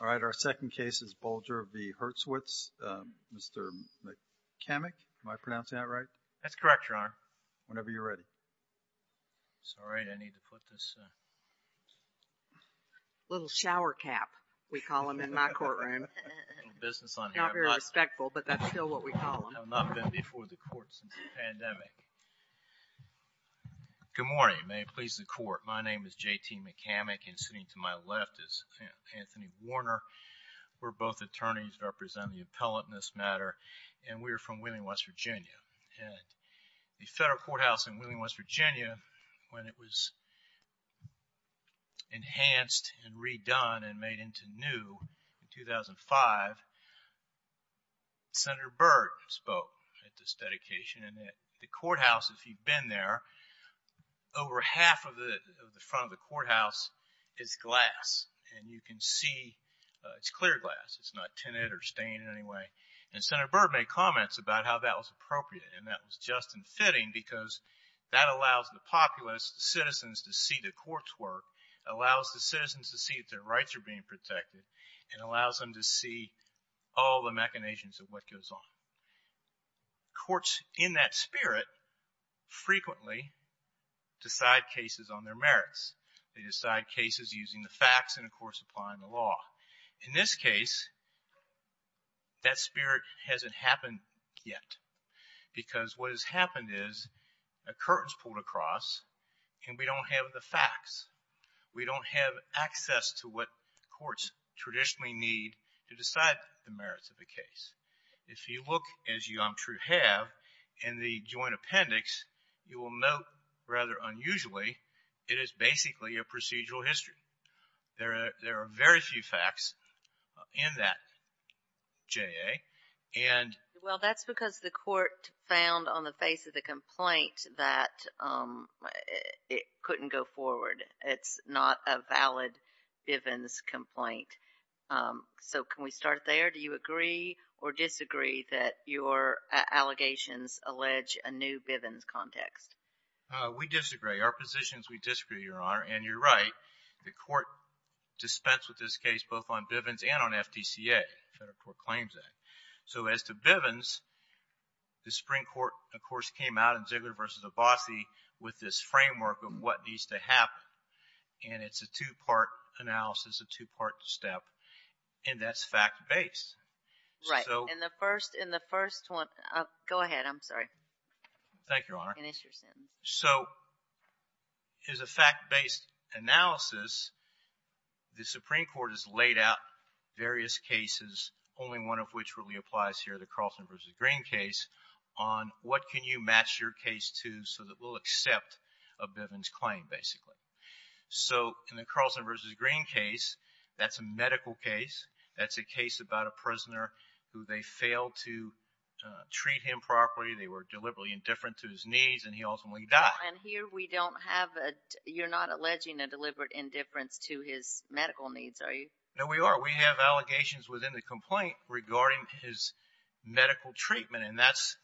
All right, our second case is Bulger v. Hurwitz. Mr. McCammack, am I pronouncing that right? That's correct, Your Honor. Whenever you're ready. Sorry, I need to put this... Little shower cap, we call him in my courtroom. A little business on him. Not very respectful, but that's still what we call him. I have not been before the court since the pandemic. Good morning. May it please the Court. My name is J.T. McCammack, and sitting to my left is Anthony Warner. We're both attorneys representing the appellate in this matter, and we're from Wheeling, West Virginia. At the federal courthouse in Wheeling, West Virginia, when it was enhanced and redone and made into new in 2005, Senator Byrd spoke at this dedication, and at the courthouse, if you've been there, over half of the front of the courthouse is glass, and you can see it's clear glass. It's not tinted or stained in any way, and Senator Byrd made comments about how that was appropriate, and that was just and fitting because that allows the populace, the citizens, to see the courts work, allows the citizens to see that their rights are being protected, and allows them to see all the machinations of what goes on. Courts in that spirit frequently decide cases on their merits. They decide cases using the facts and, of course, applying the law. In this case, that spirit hasn't happened yet because what has happened is a curtain's pulled across, and we don't have the facts. We don't have access to what courts traditionally need to decide the merits of a case. If you look, as you, I'm sure, have, in the joint appendix, you will note, rather unusually, it is basically a procedural history. There are very few facts in that, J.A. Well, that's because the court found on the face of the complaint that it couldn't go forward. It's not a valid Bivens complaint. So can we start there? Do you agree or disagree that your allegations allege a new Bivens context? We disagree. Our position is we disagree, Your Honor, and you're right. The court dispensed with this case both on Bivens and on FDCA, Federal Court Claims Act. So as to Bivens, the Supreme Court, of course, came out in Ziegler v. Abbasi with this framework of what needs to happen, and it's a two-part analysis, a two-part step, and that's fact-based. Right. In the first one, go ahead. I'm sorry. Thank you, Your Honor. Finish your sentence. So it's a fact-based analysis. The Supreme Court has laid out various cases, only one of which really applies here, the Carlson v. Green case, on what can you match your case to so that we'll accept a Bivens claim, basically. So in the Carlson v. Green case, that's a medical case. That's a case about a prisoner who they failed to treat him properly. They were deliberately indifferent to his needs, and he ultimately died. And here we don't have a – you're not alleging a deliberate indifference to his medical needs, are you? No, we are. We have allegations within the complaint regarding his medical treatment, and that's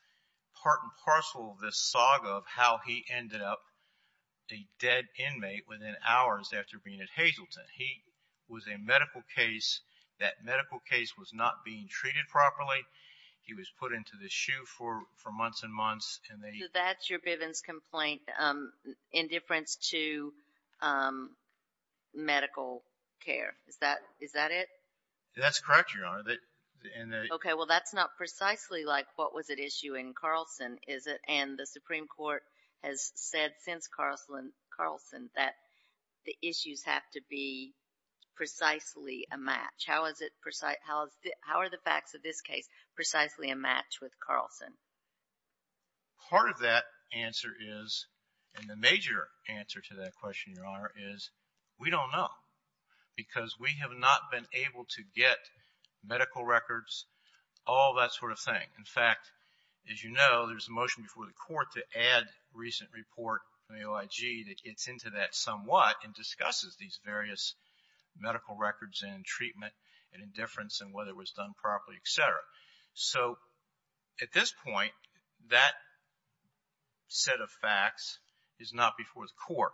part and parcel of this saga of how he ended up a dead inmate within hours after being at Hazleton. He was a medical case. That medical case was not being treated properly. He was put into the SHU for months and months. So that's your Bivens complaint, indifference to medical care. Is that it? That's correct, Your Honor. Okay. Well, that's not precisely like what was at issue in Carlson, is it? And the Supreme Court has said since Carlson that the issues have to be precisely a match. How are the facts of this case precisely a match with Carlson? Part of that answer is, and the major answer to that question, Your Honor, is we don't know because we have not been able to get medical records, all that sort of thing. In fact, as you know, there's a motion before the Court to add a recent report from the OIG that gets into that somewhat and discusses these various medical records and treatment and indifference and whether it was done properly, et cetera. So at this point, that set of facts is not before the Court.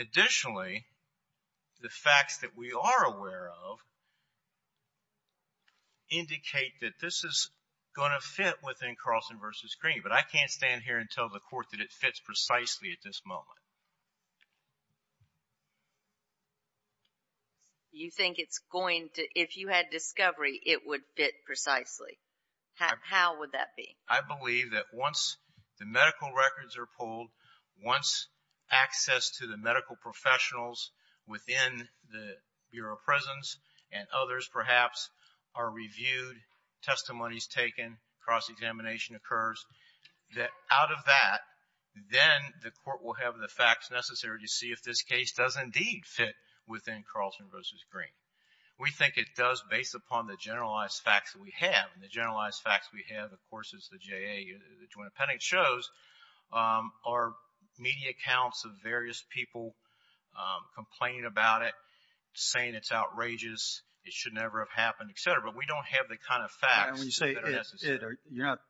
Additionally, the facts that we are aware of indicate that this is going to fit within Carlson v. Green. But I can't stand here and tell the Court that it fits precisely at this moment. You think it's going to, if you had discovery, it would fit precisely? How would that be? I believe that once the medical records are pulled, once access to the medical professionals within the Bureau of Prisons and others perhaps are reviewed, testimonies taken, cross-examination occurs, that out of that, then the Court will have the facts necessary to see if this case does indeed fit within Carlson v. Green. We think it does based upon the generalized facts that we have. And the generalized facts we have, of course, is the JA Joint Appendix shows our media accounts of various people complaining about it, saying it's outrageous, it should never have happened, et cetera. But we don't have the kind of facts that are necessary. You're not,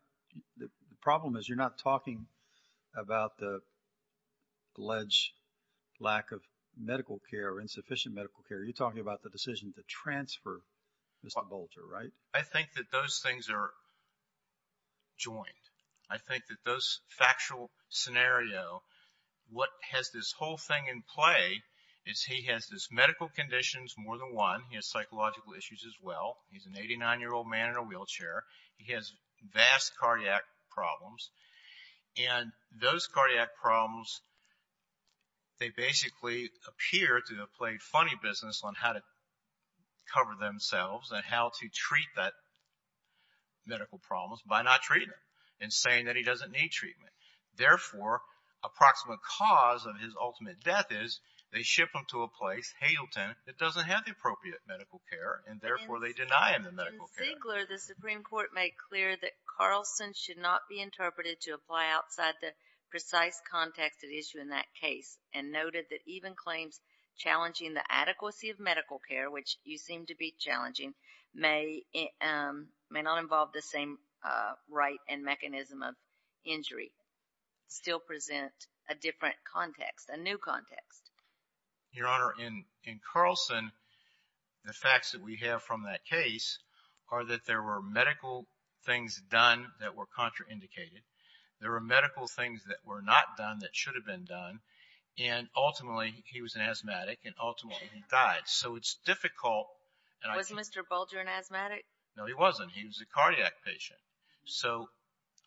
the problem is you're not talking about the alleged lack of medical care or insufficient medical care. You're talking about the decision to transfer Mr. Bolger, right? I think that those things are joined. I think that those factual scenario, what has this whole thing in play is he has these medical conditions, more than one. He has psychological issues as well. He's an 89-year-old man in a wheelchair. He has vast cardiac problems, and those cardiac problems, they basically appear to have played funny business on how to cover themselves and how to treat that medical problems by not treating him and saying that he doesn't need treatment. Therefore, approximate cause of his ultimate death is they ship him to a place, Haylton, that doesn't have the appropriate medical care, and therefore they deny him the medical care. In Ziegler, the Supreme Court made clear that Carlson should not be interpreted to apply outside the precise context at issue in that case and noted that even claims challenging the adequacy of medical care, which you seem to be challenging, may not involve the same right and mechanism of injury, still present a different context, a new context. Your Honor, in Carlson, the facts that we have from that case are that there were medical things done that were contraindicated. There were medical things that were not done that should have been done, and ultimately he was an asthmatic, and ultimately he died. So it's difficult. Was Mr. Bulger an asthmatic? No, he wasn't. He was a cardiac patient. So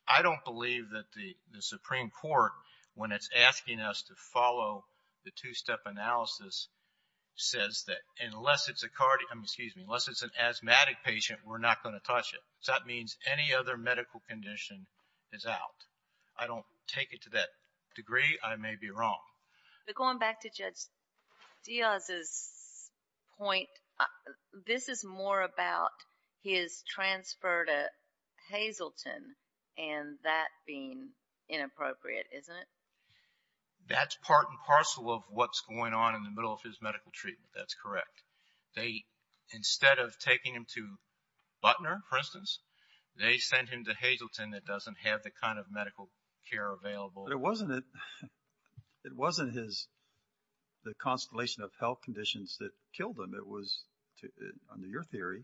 I don't believe that the Supreme Court, when it's asking us to follow the two-step analysis, says that unless it's an asthmatic patient, we're not going to touch it. That means any other medical condition is out. I don't take it to that degree. I may be wrong. But going back to Judge Diaz's point, this is more about his transfer to Hazleton and that being inappropriate, isn't it? That's part and parcel of what's going on in the middle of his medical treatment. That's correct. Instead of taking him to Butner, for instance, they sent him to Hazleton that doesn't have the kind of medical care available. But it wasn't the constellation of health conditions that killed him. It was, under your theory,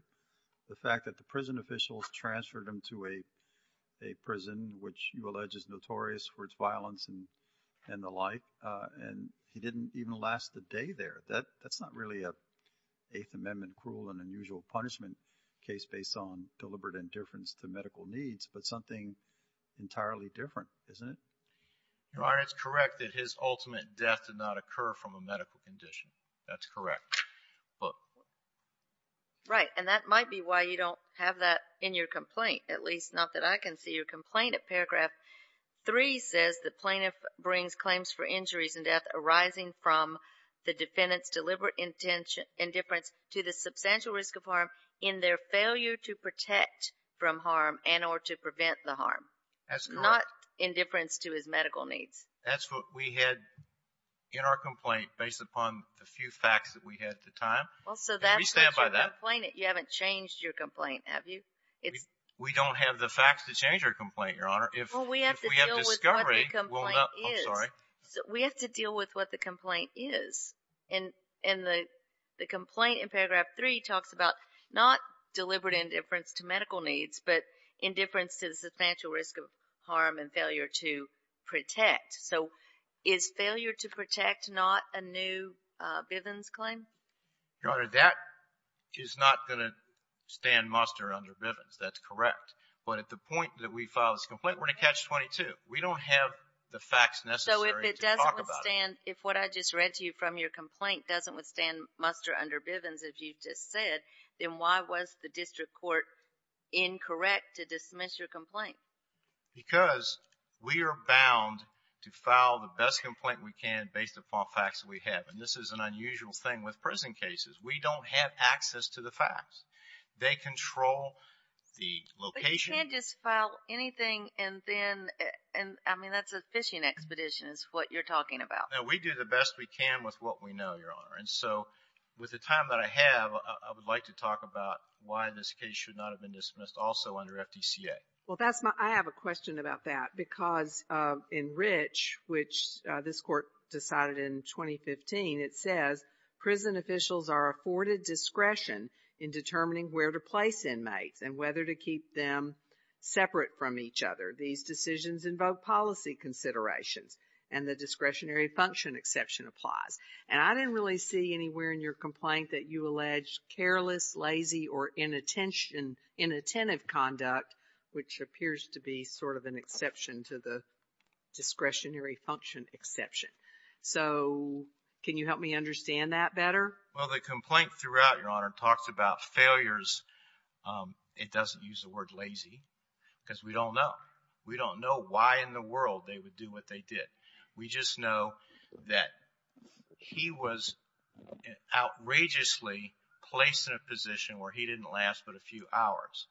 the fact that the prison officials transferred him to a prison, which you allege is notorious for its violence and the like, and he didn't even last a day there. That's not really an Eighth Amendment cruel and unusual punishment case based on deliberate indifference to medical needs, but something entirely different, isn't it? Your Honor, it's correct that his ultimate death did not occur from a medical condition. That's correct. Right, and that might be why you don't have that in your complaint, at least not that I can see your complaint at paragraph 3, says the plaintiff brings claims for injuries and death arising from the defendant's deliberate indifference to the substantial risk of harm in their failure to protect from harm and or to prevent the harm. That's correct. Not indifference to his medical needs. That's what we had in our complaint based upon the few facts that we had at the time. Can we stand by that? You haven't changed your complaint, have you? We don't have the facts to change our complaint, Your Honor. Well, we have to deal with what the complaint is. We have to deal with what the complaint is. And the complaint in paragraph 3 talks about not deliberate indifference to medical needs, but indifference to the substantial risk of harm and failure to protect. So is failure to protect not a new Bivens claim? Your Honor, that is not going to stand muster under Bivens. That's correct. But at the point that we file this complaint, we're going to catch 22. We don't have the facts necessary to talk about it. I don't understand. If what I just read to you from your complaint doesn't withstand muster under Bivens, if you just said, then why was the district court incorrect to dismiss your complaint? Because we are bound to file the best complaint we can based upon facts that we have. And this is an unusual thing with prison cases. We don't have access to the facts. They control the location. You can't just file anything and then, I mean, that's a fishing expedition is what you're talking about. No, we do the best we can with what we know, Your Honor. And so with the time that I have, I would like to talk about why this case should not have been dismissed also under FDCA. Well, I have a question about that because in Rich, which this court decided in 2015, it says prison officials are afforded discretion in determining where to place inmates and whether to keep them separate from each other. These decisions invoke policy considerations, and the discretionary function exception applies. And I didn't really see anywhere in your complaint that you allege careless, lazy, or inattentive conduct, which appears to be sort of an exception to the discretionary function exception. So can you help me understand that better? Well, the complaint throughout, Your Honor, talks about failures. It doesn't use the word lazy because we don't know. We don't know why in the world they would do what they did. We just know that he was outrageously placed in a position where he didn't last but a few hours.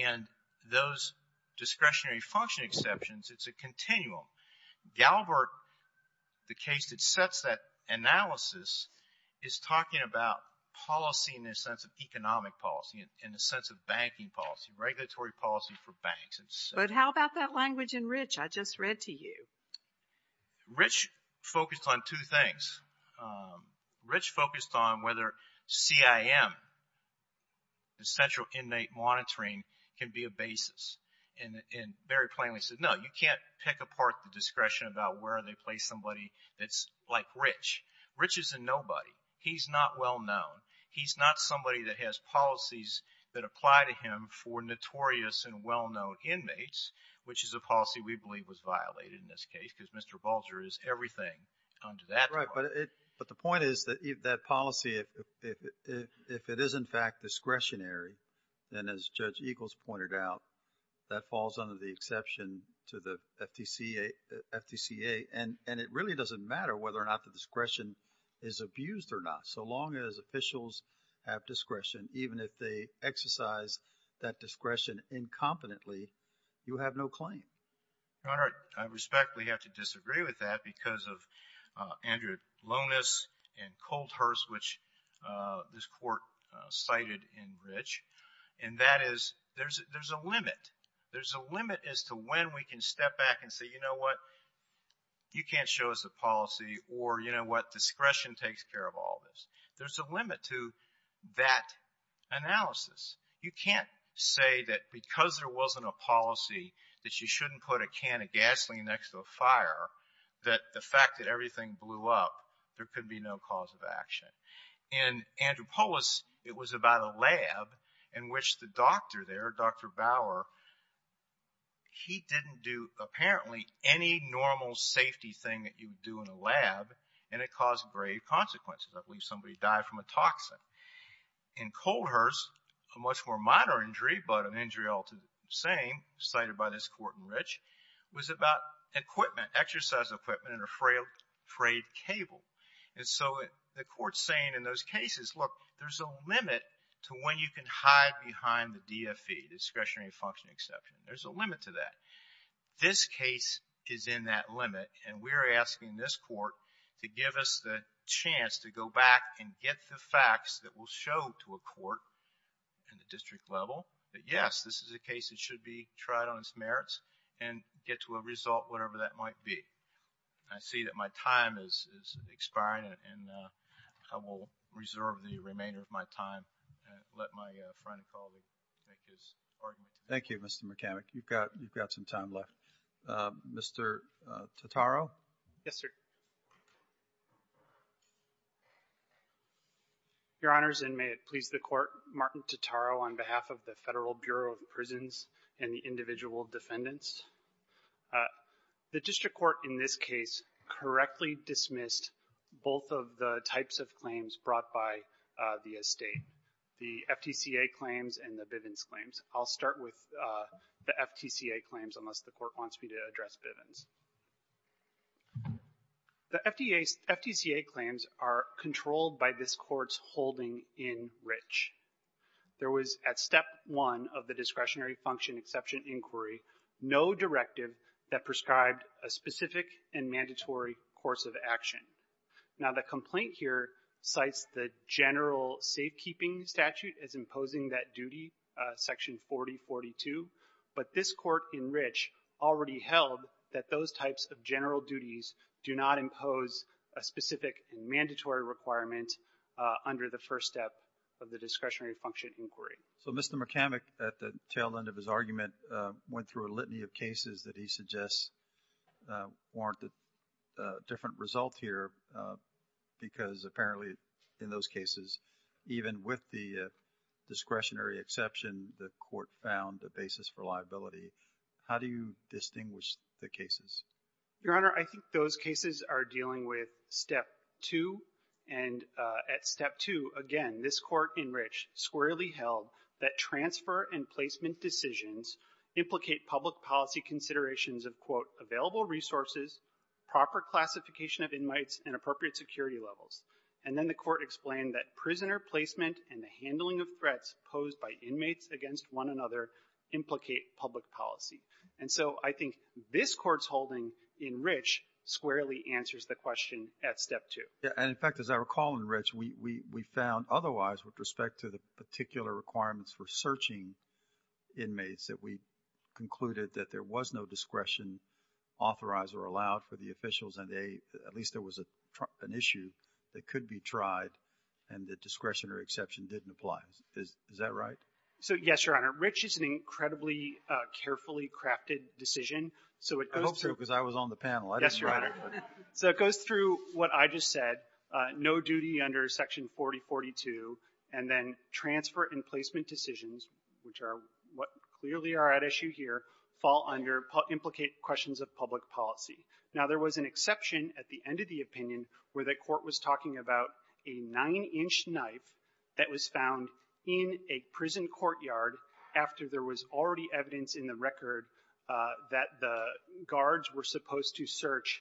And those discretionary function exceptions, it's a continuum. Galbert, the case that sets that analysis, is talking about policy in the sense of economic policy, in the sense of banking policy, regulatory policy for banks. But how about that language in Rich I just read to you? Rich focused on two things. Rich focused on whether CIM, essential inmate monitoring, can be a basis. And very plainly said, no, you can't pick apart the discretion about where they place somebody that's like Rich. Rich is a nobody. He's not well-known. He's not somebody that has policies that apply to him for notorious and well-known inmates, which is a policy we believe was violated in this case because Mr. Bulger is everything under that. But the point is that policy, if it is in fact discretionary, then as Judge Eagles pointed out, that falls under the exception to the FTCA. And it really doesn't matter whether or not the discretion is abused or not. So long as officials have discretion, even if they exercise that discretion incompetently, you have no claim. Your Honor, I respectfully have to disagree with that because of Andrew Lonis and Colt Hurst, which this Court cited in Rich, and that is there's a limit. There's a limit as to when we can step back and say, you know what, you can't show us a policy, or, you know what, discretion takes care of all this. There's a limit to that analysis. You can't say that because there wasn't a policy that you shouldn't put a can of gasoline next to a fire, that the fact that everything blew up, there could be no cause of action. In Andrew Polis, it was about a lab in which the doctor there, Dr. Bauer, he didn't do apparently any normal safety thing that you would do in a lab, and it caused grave consequences. I believe somebody died from a toxin. In Colt Hurst, a much more minor injury, but an injury all to the same, cited by this Court in Rich, was about equipment, exercise equipment, and a frayed cable. And so the Court's saying in those cases, look, there's a limit to when you can hide behind the DFE, discretionary function exception. There's a limit to that. This case is in that limit, and we're asking this Court to give us the chance to go back and get the facts that will show to a Court in the district level that, yes, this is a case that should be tried on its merits and get to a result, whatever that might be. I see that my time is expiring, and I will reserve the remainder of my time and let my friend and colleague make his argument. Thank you, Mr. McCormick. You've got some time left. Mr. Totaro? Yes, sir. Your Honors, and may it please the Court, Martin Totaro on behalf of the Federal Bureau of Prisons and the individual defendants. The district court in this case correctly dismissed both of the types of claims brought by the estate, the FTCA claims and the Bivens claims. I'll start with the FTCA claims unless the Court wants me to address Bivens. The FTCA claims are controlled by this Court's holding in Rich. There was at step one of the discretionary function exception inquiry no directive that prescribed a specific and mandatory course of action. Now, the complaint here cites the general safekeeping statute as imposing that duty, section 4042, but this Court in Rich already held that those types of general duties do not impose a specific and mandatory requirement under the first step of the discretionary function inquiry. So Mr. McCormick at the tail end of his argument went through a litany of cases that he suggests warrant a different result here because apparently in those cases, even with the discretionary exception, the Court found a basis for liability. How do you distinguish the cases? Your Honor, I think those cases are dealing with step two. And at step two, again, this Court in Rich squarely held that transfer and placement decisions implicate public policy considerations of, quote, available resources, proper classification of inmates, and appropriate security levels. And then the Court explained that prisoner placement and the handling of threats posed by inmates against one another implicate public policy. And so I think this Court's holding in Rich squarely answers the question at step two. And in fact, as I recall in Rich, we found otherwise with respect to the particular requirements for searching inmates that we concluded that there was no discretion authorized or allowed for the officials, and at least there was an issue that could be tried and the discretionary exception didn't apply. Is that right? So, yes, Your Honor. Rich is an incredibly carefully crafted decision. I hope so because I was on the panel. Yes, Your Honor. So it goes through what I just said, no duty under Section 4042, and then transfer and placement decisions, which are what clearly are at issue here, fall under implicate questions of public policy. Now, there was an exception at the end of the opinion where the Court was talking about a 9-inch knife that was found in a prison courtyard after there was already evidence in the record that the guards were supposed to search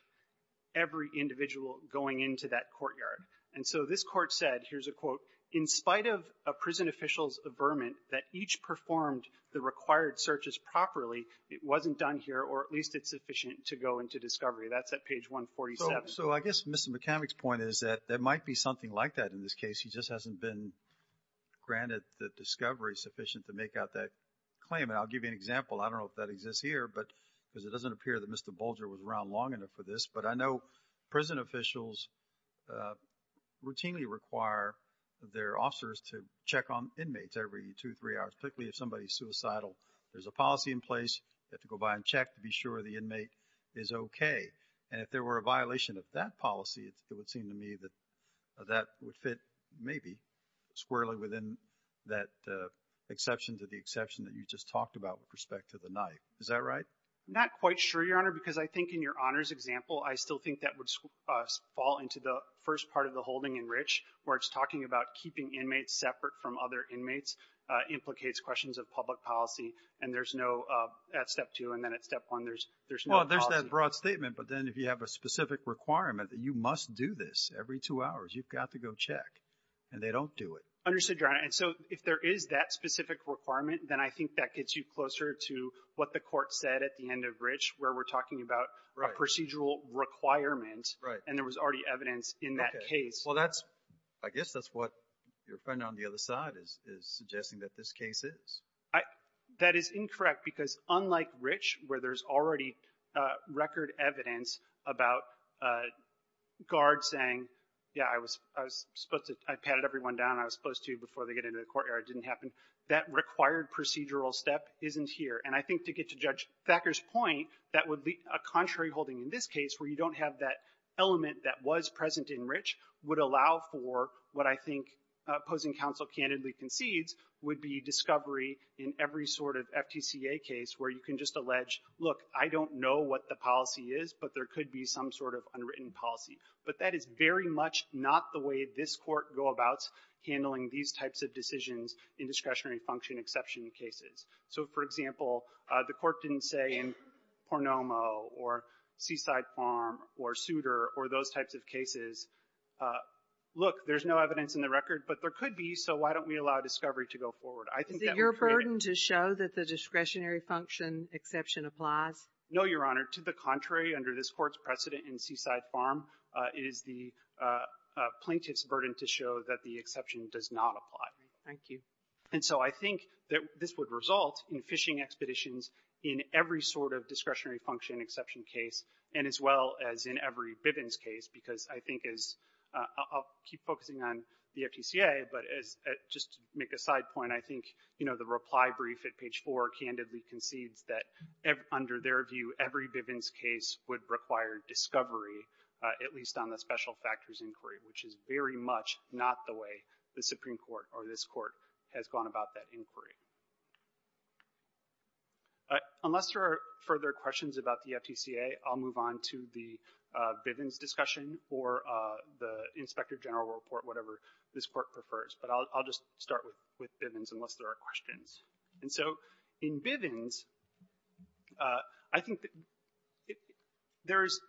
every individual going into that courtyard. And so this Court said, here's a quote, in spite of a prison official's averment that each performed the required searches properly, it wasn't done here or at least it's sufficient to go into discovery. That's at page 147. So I guess Mr. McCormick's point is that there might be something like that in this case. He just hasn't been granted the discovery sufficient to make out that claim. And I'll give you an example. I don't know if that exists here because it doesn't appear that Mr. Bolger was around long enough for this. But I know prison officials routinely require their officers to check on inmates every two, three hours, particularly if somebody's suicidal. There's a policy in place. You have to go by and check to be sure the inmate is okay. And if there were a violation of that policy, it would seem to me that that would fit maybe squarely within that exception to the exception that you just talked about with respect to the knife. Is that right? I'm not quite sure, Your Honor, because I think in Your Honor's example, I still think that would fall into the first part of the holding in Rich where it's talking about keeping inmates separate from other inmates implicates questions of public policy. And there's no at step two and then at step one there's no policy. Well, there's that broad statement. But then if you have a specific requirement that you must do this every two hours, you've got to go check. And they don't do it. Understood, Your Honor. And so if there is that specific requirement, then I think that gets you closer to what the court said at the end of Rich where we're talking about a procedural requirement and there was already evidence in that case. Well, I guess that's what your friend on the other side is suggesting that this case is. That is incorrect because unlike Rich where there's already record evidence about guards saying, yeah, I was supposed to, I patted everyone down. I was supposed to before they get into the courtyard. It didn't happen. That required procedural step isn't here. And I think to get to Judge Thacker's point, that would be a contrary holding in this case where you don't have that element that was present in Rich would allow for what I think opposing counsel candidly concedes would be discovery in every sort of FTCA case where you can just allege, look, I don't know what the policy is, but there could be some sort of unwritten policy. But that is very much not the way this Court go about handling these types of decisions in discretionary function exception cases. So, for example, the Court didn't say in Pornomo or Seaside Farm or Souter or those types of cases, look, there's no evidence in the record, but there could be, so why don't we allow discovery to go forward? I think that would create a ---- Is it your burden to show that the discretionary function exception applies? No, Your Honor. To the contrary, under this Court's precedent in Seaside Farm, it is the plaintiff's burden to show that the exception does not apply. Thank you. And so I think that this would result in fishing expeditions in every sort of discretionary function exception case and as well as in every Bivens case because I think as ---- I'll keep focusing on the FTCA, but as just to make a side point, I think, you know, the reply brief at page 4 candidly concedes that under their view, every Bivens case would require discovery, at least on the special factors inquiry, which is very much not the way the Supreme Court or this Court has gone about that inquiry. Unless there are further questions about the FTCA, I'll move on to the Bivens discussion or the Inspector General report, whatever this Court prefers, but I'll just start with Bivens. And so in Bivens, I think there is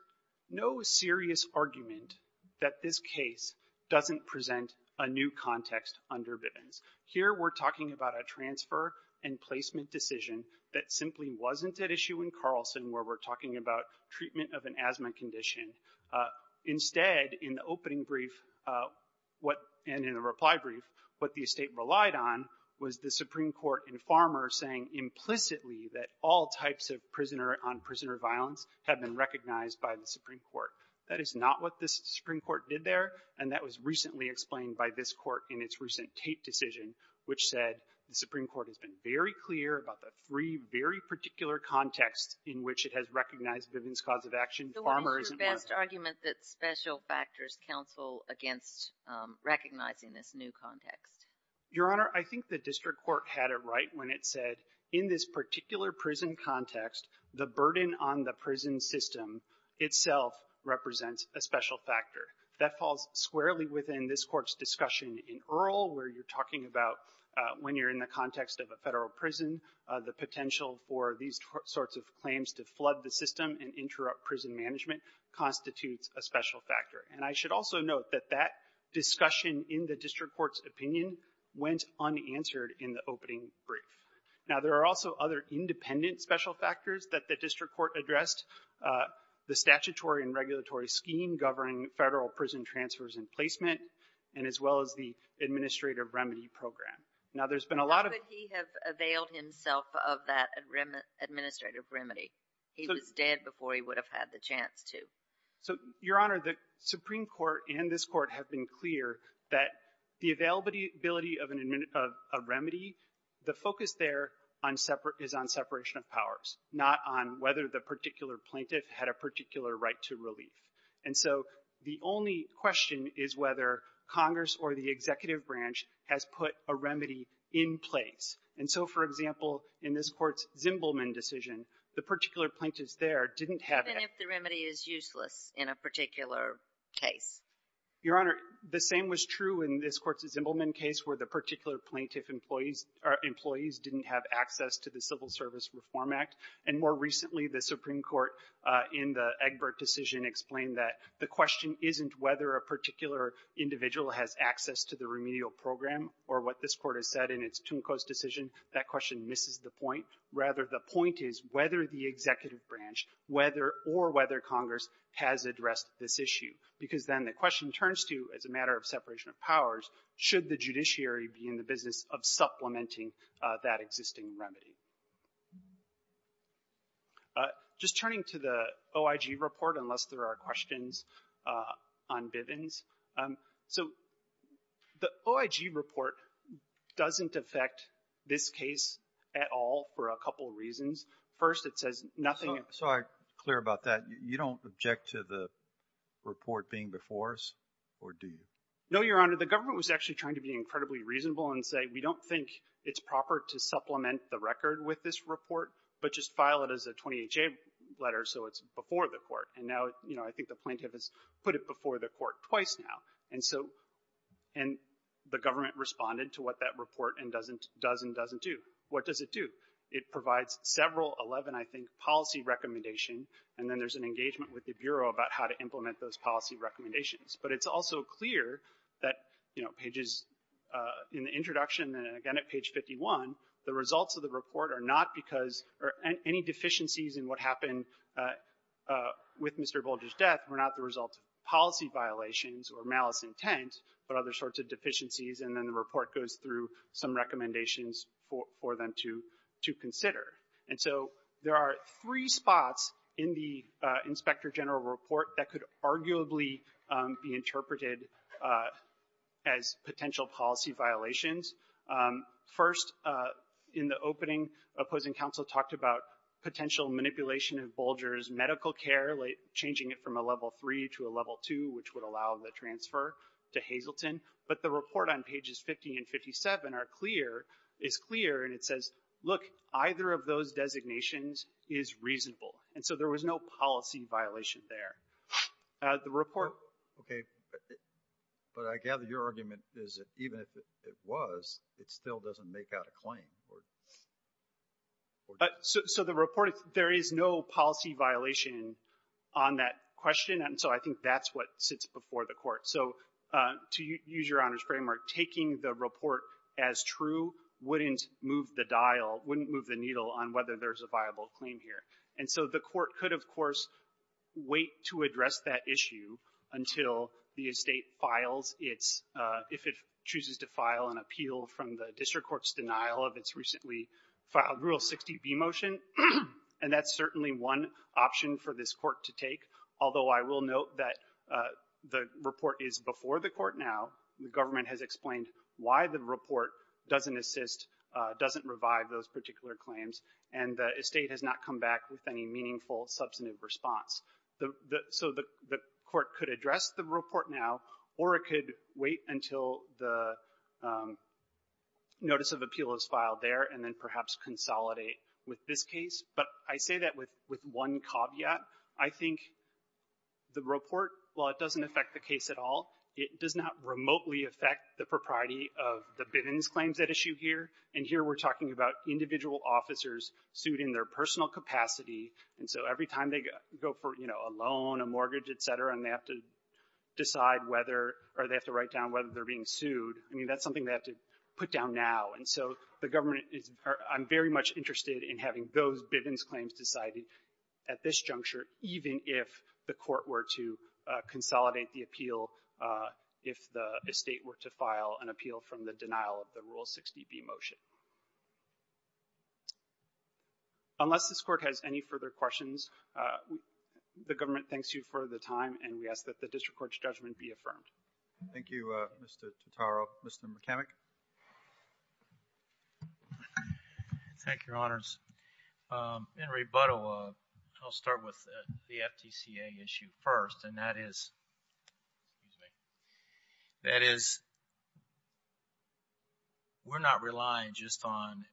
no serious argument that this case doesn't present a new context under Bivens. Here we're talking about a transfer and placement decision that simply wasn't at issue in Carlson where we're talking about treatment of an asthma condition. Instead, in the opening brief and in the reply brief, what the estate relied on was the Supreme Court and Farmer saying implicitly that all types of prisoner-on-prisoner violence had been recognized by the Supreme Court. That is not what the Supreme Court did there, and that was recently explained by this Court in its recent Tate decision, which said the Supreme Court has been very clear about the three very particular contexts in which it has recognized Bivens' cause of action. Farmer isn't one of them. So what is your best argument that special factors counsel against recognizing this new context? Your Honor, I think the district court had it right when it said in this particular prison context, the burden on the prison system itself represents a special factor. That falls squarely within this Court's discussion in Earl where you're talking about when you're in the context of a Federal prison, the potential for these sorts of claims to flood the system and interrupt prison management constitutes a special factor. And I should also note that that discussion in the district court's opinion went unanswered in the opening brief. Now, there are also other independent special factors that the district court addressed, the statutory and regulatory scheme governing Federal prison transfers and placement, and as well as the administrative remedy program. Now, there's been a lot of — How could he have availed himself of that administrative remedy? He was dead before he would have had the chance to. So, Your Honor, the Supreme Court and this Court have been clear that the availability of a remedy, the focus there is on separation of powers, not on whether the particular plaintiff had a particular right to relief. And so the only question is whether Congress or the executive branch has put a remedy in place. And so, for example, in this Court's Zimbelman decision, the particular plaintiff's there didn't have it. Even if the remedy is useless in a particular case? Your Honor, the same was true in this Court's Zimbelman case where the particular plaintiff employees didn't have access to the Civil Service Reform Act. And more recently, the Supreme Court in the Egbert decision explained that the question isn't whether a particular individual has access to the remedial program or what this Court has said in its Tuncos decision. That question misses the point. Rather, the point is whether the executive branch, whether or whether Congress has addressed this issue. Because then the question turns to, as a matter of separation of powers, should the judiciary be in the business of supplementing that existing remedy? Just turning to the OIG report, unless there are questions on Bivens. So the OIG report doesn't affect this case at all for a couple of reasons. First, it says nothing. So I'm clear about that. You don't object to the report being before us, or do you? No, Your Honor. The government was actually trying to be incredibly reasonable and say, we don't think it's proper to supplement the record with this report, but just file it as a 20HA letter so it's before the Court. And now, you know, I think the plaintiff has put it before the Court twice now. And so, and the government responded to what that report does and doesn't do. What does it do? It provides several, 11, I think, policy recommendations, and then there's an engagement with the Bureau about how to implement those policy recommendations. But it's also clear that, you know, pages, in the introduction and again at page 51, the results of the report are not because, or any deficiencies in what happened with Mr. Bolger's death were not the result of policy violations or malice intent, but other sorts of deficiencies, and then the report goes through some recommendations for them to consider. And so there are three spots in the Inspector General report that could arguably be interpreted as potential policy violations. First, in the opening, opposing counsel talked about potential manipulation of Bolger's medical care, like changing it from a level three to a level two, which would allow the transfer to Hazleton. But the report on pages 50 and 57 are clear, is clear, and it says, look, either of those designations is reasonable. And so there was no policy violation there. The report. Okay. But I gather your argument is that even if it was, it still doesn't make out a claim. So the report, there is no policy violation on that question, and so I think that's what sits before the Court. So to use Your Honor's framework, taking the report as true wouldn't move the dial, wouldn't move the needle on whether there's a viable claim here. And so the Court could, of course, wait to address that issue until the estate files its, if it chooses to file an appeal from the district court's denial of its recently filed Rule 60B motion, and that's certainly one option for this court to take, although I will note that the report is before the court now. The government has explained why the report doesn't assist, doesn't revive those particular claims, and the estate has not come back with any meaningful substantive response. So the court could address the report now, or it could wait until the notice of appeal is filed there and then perhaps consolidate with this case. But I say that with one caveat. I think the report, while it doesn't affect the case at all, it does not remotely affect the propriety of the Bivens claims at issue here. And here we're talking about individual officers sued in their personal capacity, and so every time they go for, you know, a loan, a mortgage, et cetera, and they have to decide whether, or they have to write down whether they're being sued, I mean, that's something they have to put down now. And so the government is, I'm very much interested in having those Bivens claims decided at this juncture, even if the court were to consolidate the appeal if the Bivens claims were to be sued. Unless this court has any further questions, the government thanks you for the time, and we ask that the district court's judgment be affirmed. Thank you, Mr. Totaro. Mr. McKemmick. Thank you, Your Honors. In rebuttal, I'll start with the FTCA issue first, and that is, excuse me, that is, we're not relying just on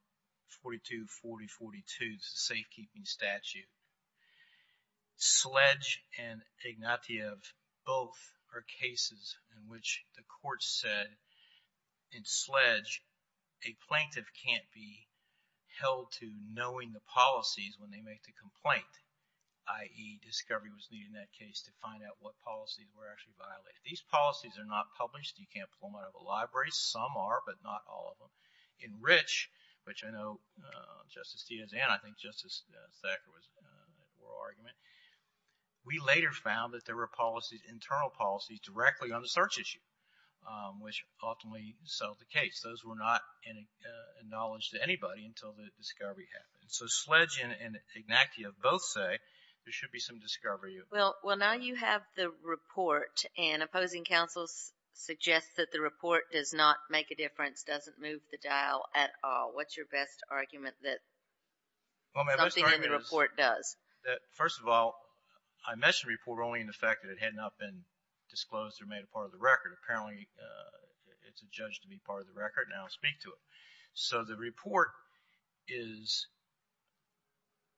42, 40, 42. This is a safekeeping statute. Sledge and Ignatieff, both are cases in which the court said in Sledge, a plaintiff can't be held to knowing the policies when they make the complaint, i.e., discovery was needed in that case to find out what policies were actually violated. These policies are not published. You can't pull them out of a library. Some are, but not all of them. In Rich, which I know Justice Tiazan, I think Justice Thacker was at the oral argument, we later found that there were policies, internal policies, directly on the search issue, which ultimately settled the case. Those were not acknowledged to anybody until the discovery happened. So Sledge and Ignatieff both say there should be some discovery. Well, now you have the report, and opposing counsels suggest that the report does not make a difference, doesn't move the dial at all. What's your best argument that something in the report does? First of all, I mentioned the report only in the fact that it had not been disclosed or made a part of the record. Apparently, it's adjudged to be part of the record, and I'll speak to it. So the report is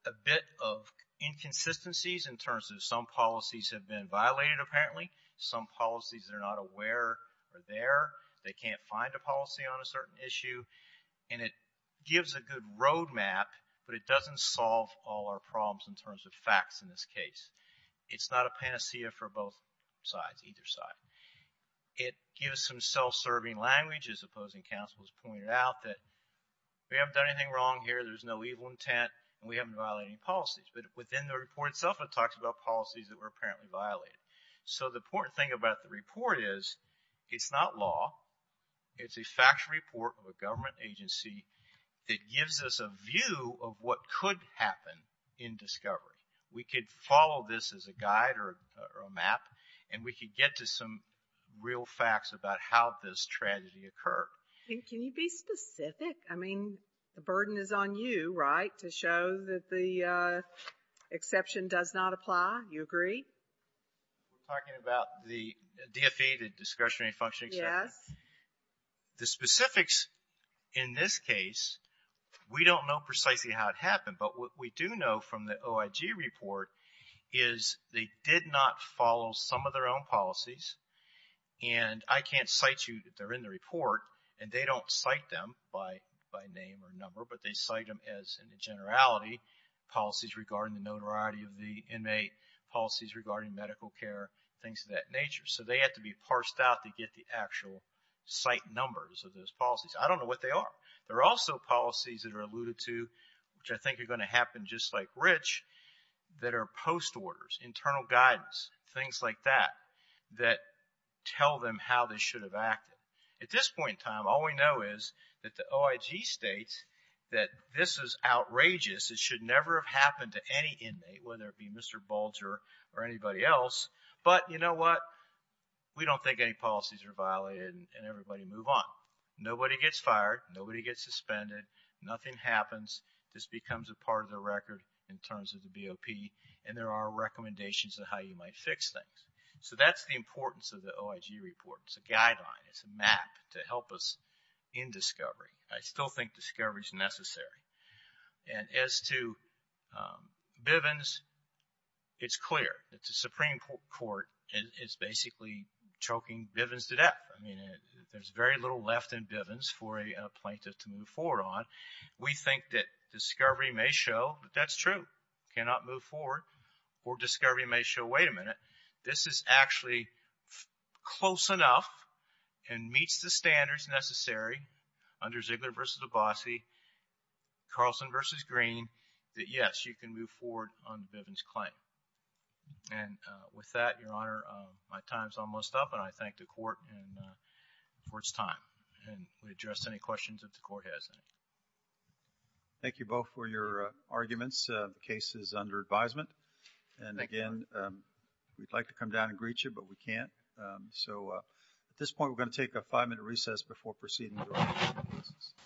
a bit of inconsistencies in terms of some policies have been violated, apparently, some policies that are not aware are there, they can't find a policy on a certain issue, and it gives a good roadmap, but it doesn't solve all our problems in terms of facts in this case. It's not a panacea for both sides, either side. It gives some self-serving language, as opposing counsels pointed out, that we haven't done anything wrong here, there's no evil intent, and we haven't violated any policies. But within the report itself, it talks about policies that were apparently violated. So the important thing about the report is it's not law. It's a factual report of a government agency that gives us a view of what could happen in discovery. We could follow this as a guide or a map, and we could get to some real facts about how this tragedy occurred. Can you be specific? I mean, the burden is on you, right, to show that the exception does not apply. You agree? We're talking about the DFA, the discretionary function exception? Yes. The specifics in this case, we don't know precisely how it happened, but what we do know from the OIG report is they did not follow some of their own policies, and I can't cite you that they're in the report, and they don't cite them by name or number, but they cite them as, in the generality, policies regarding the notoriety of the inmate, policies regarding medical care, things of that nature. So they have to be parsed out to get the actual site numbers of those policies. I don't know what they are. There are also policies that are alluded to, which I think are going to happen just like Rich, that are post-orders, internal guidance, things like that, that tell them how they should have acted. At this point in time, all we know is that the OIG states that this is outrageous. It should never have happened to any inmate, whether it be Mr. Bulger or anybody else, but you know what? We don't think any policies are violated, and everybody move on. Nobody gets fired. Nobody gets suspended. Nothing happens. This becomes a part of the record in terms of the BOP, and there are recommendations of how you might fix things. So that's the importance of the OIG report. It's a guideline. It's a map to help us in discovery. I still think discovery is necessary. And as to Bivens, it's clear that the Supreme Court is basically choking Bivens to death. I mean, there's very little left in Bivens for a plaintiff to move forward on. We think that discovery may show that that's true, cannot move forward, or discovery may show, wait a minute, this is actually close enough and meets the standards necessary under Ziegler v. Abbasi, Carlson v. Green, that, yes, you can move forward on the Bivens claim. And with that, Your Honor, my time is almost up, and I thank the court for its time. And we address any questions if the court has any. Thank you both for your arguments. The case is under advisement. And again, we'd like to come down and greet you, but we can't. So at this point, we're going to take a five-minute recess before proceeding with our case.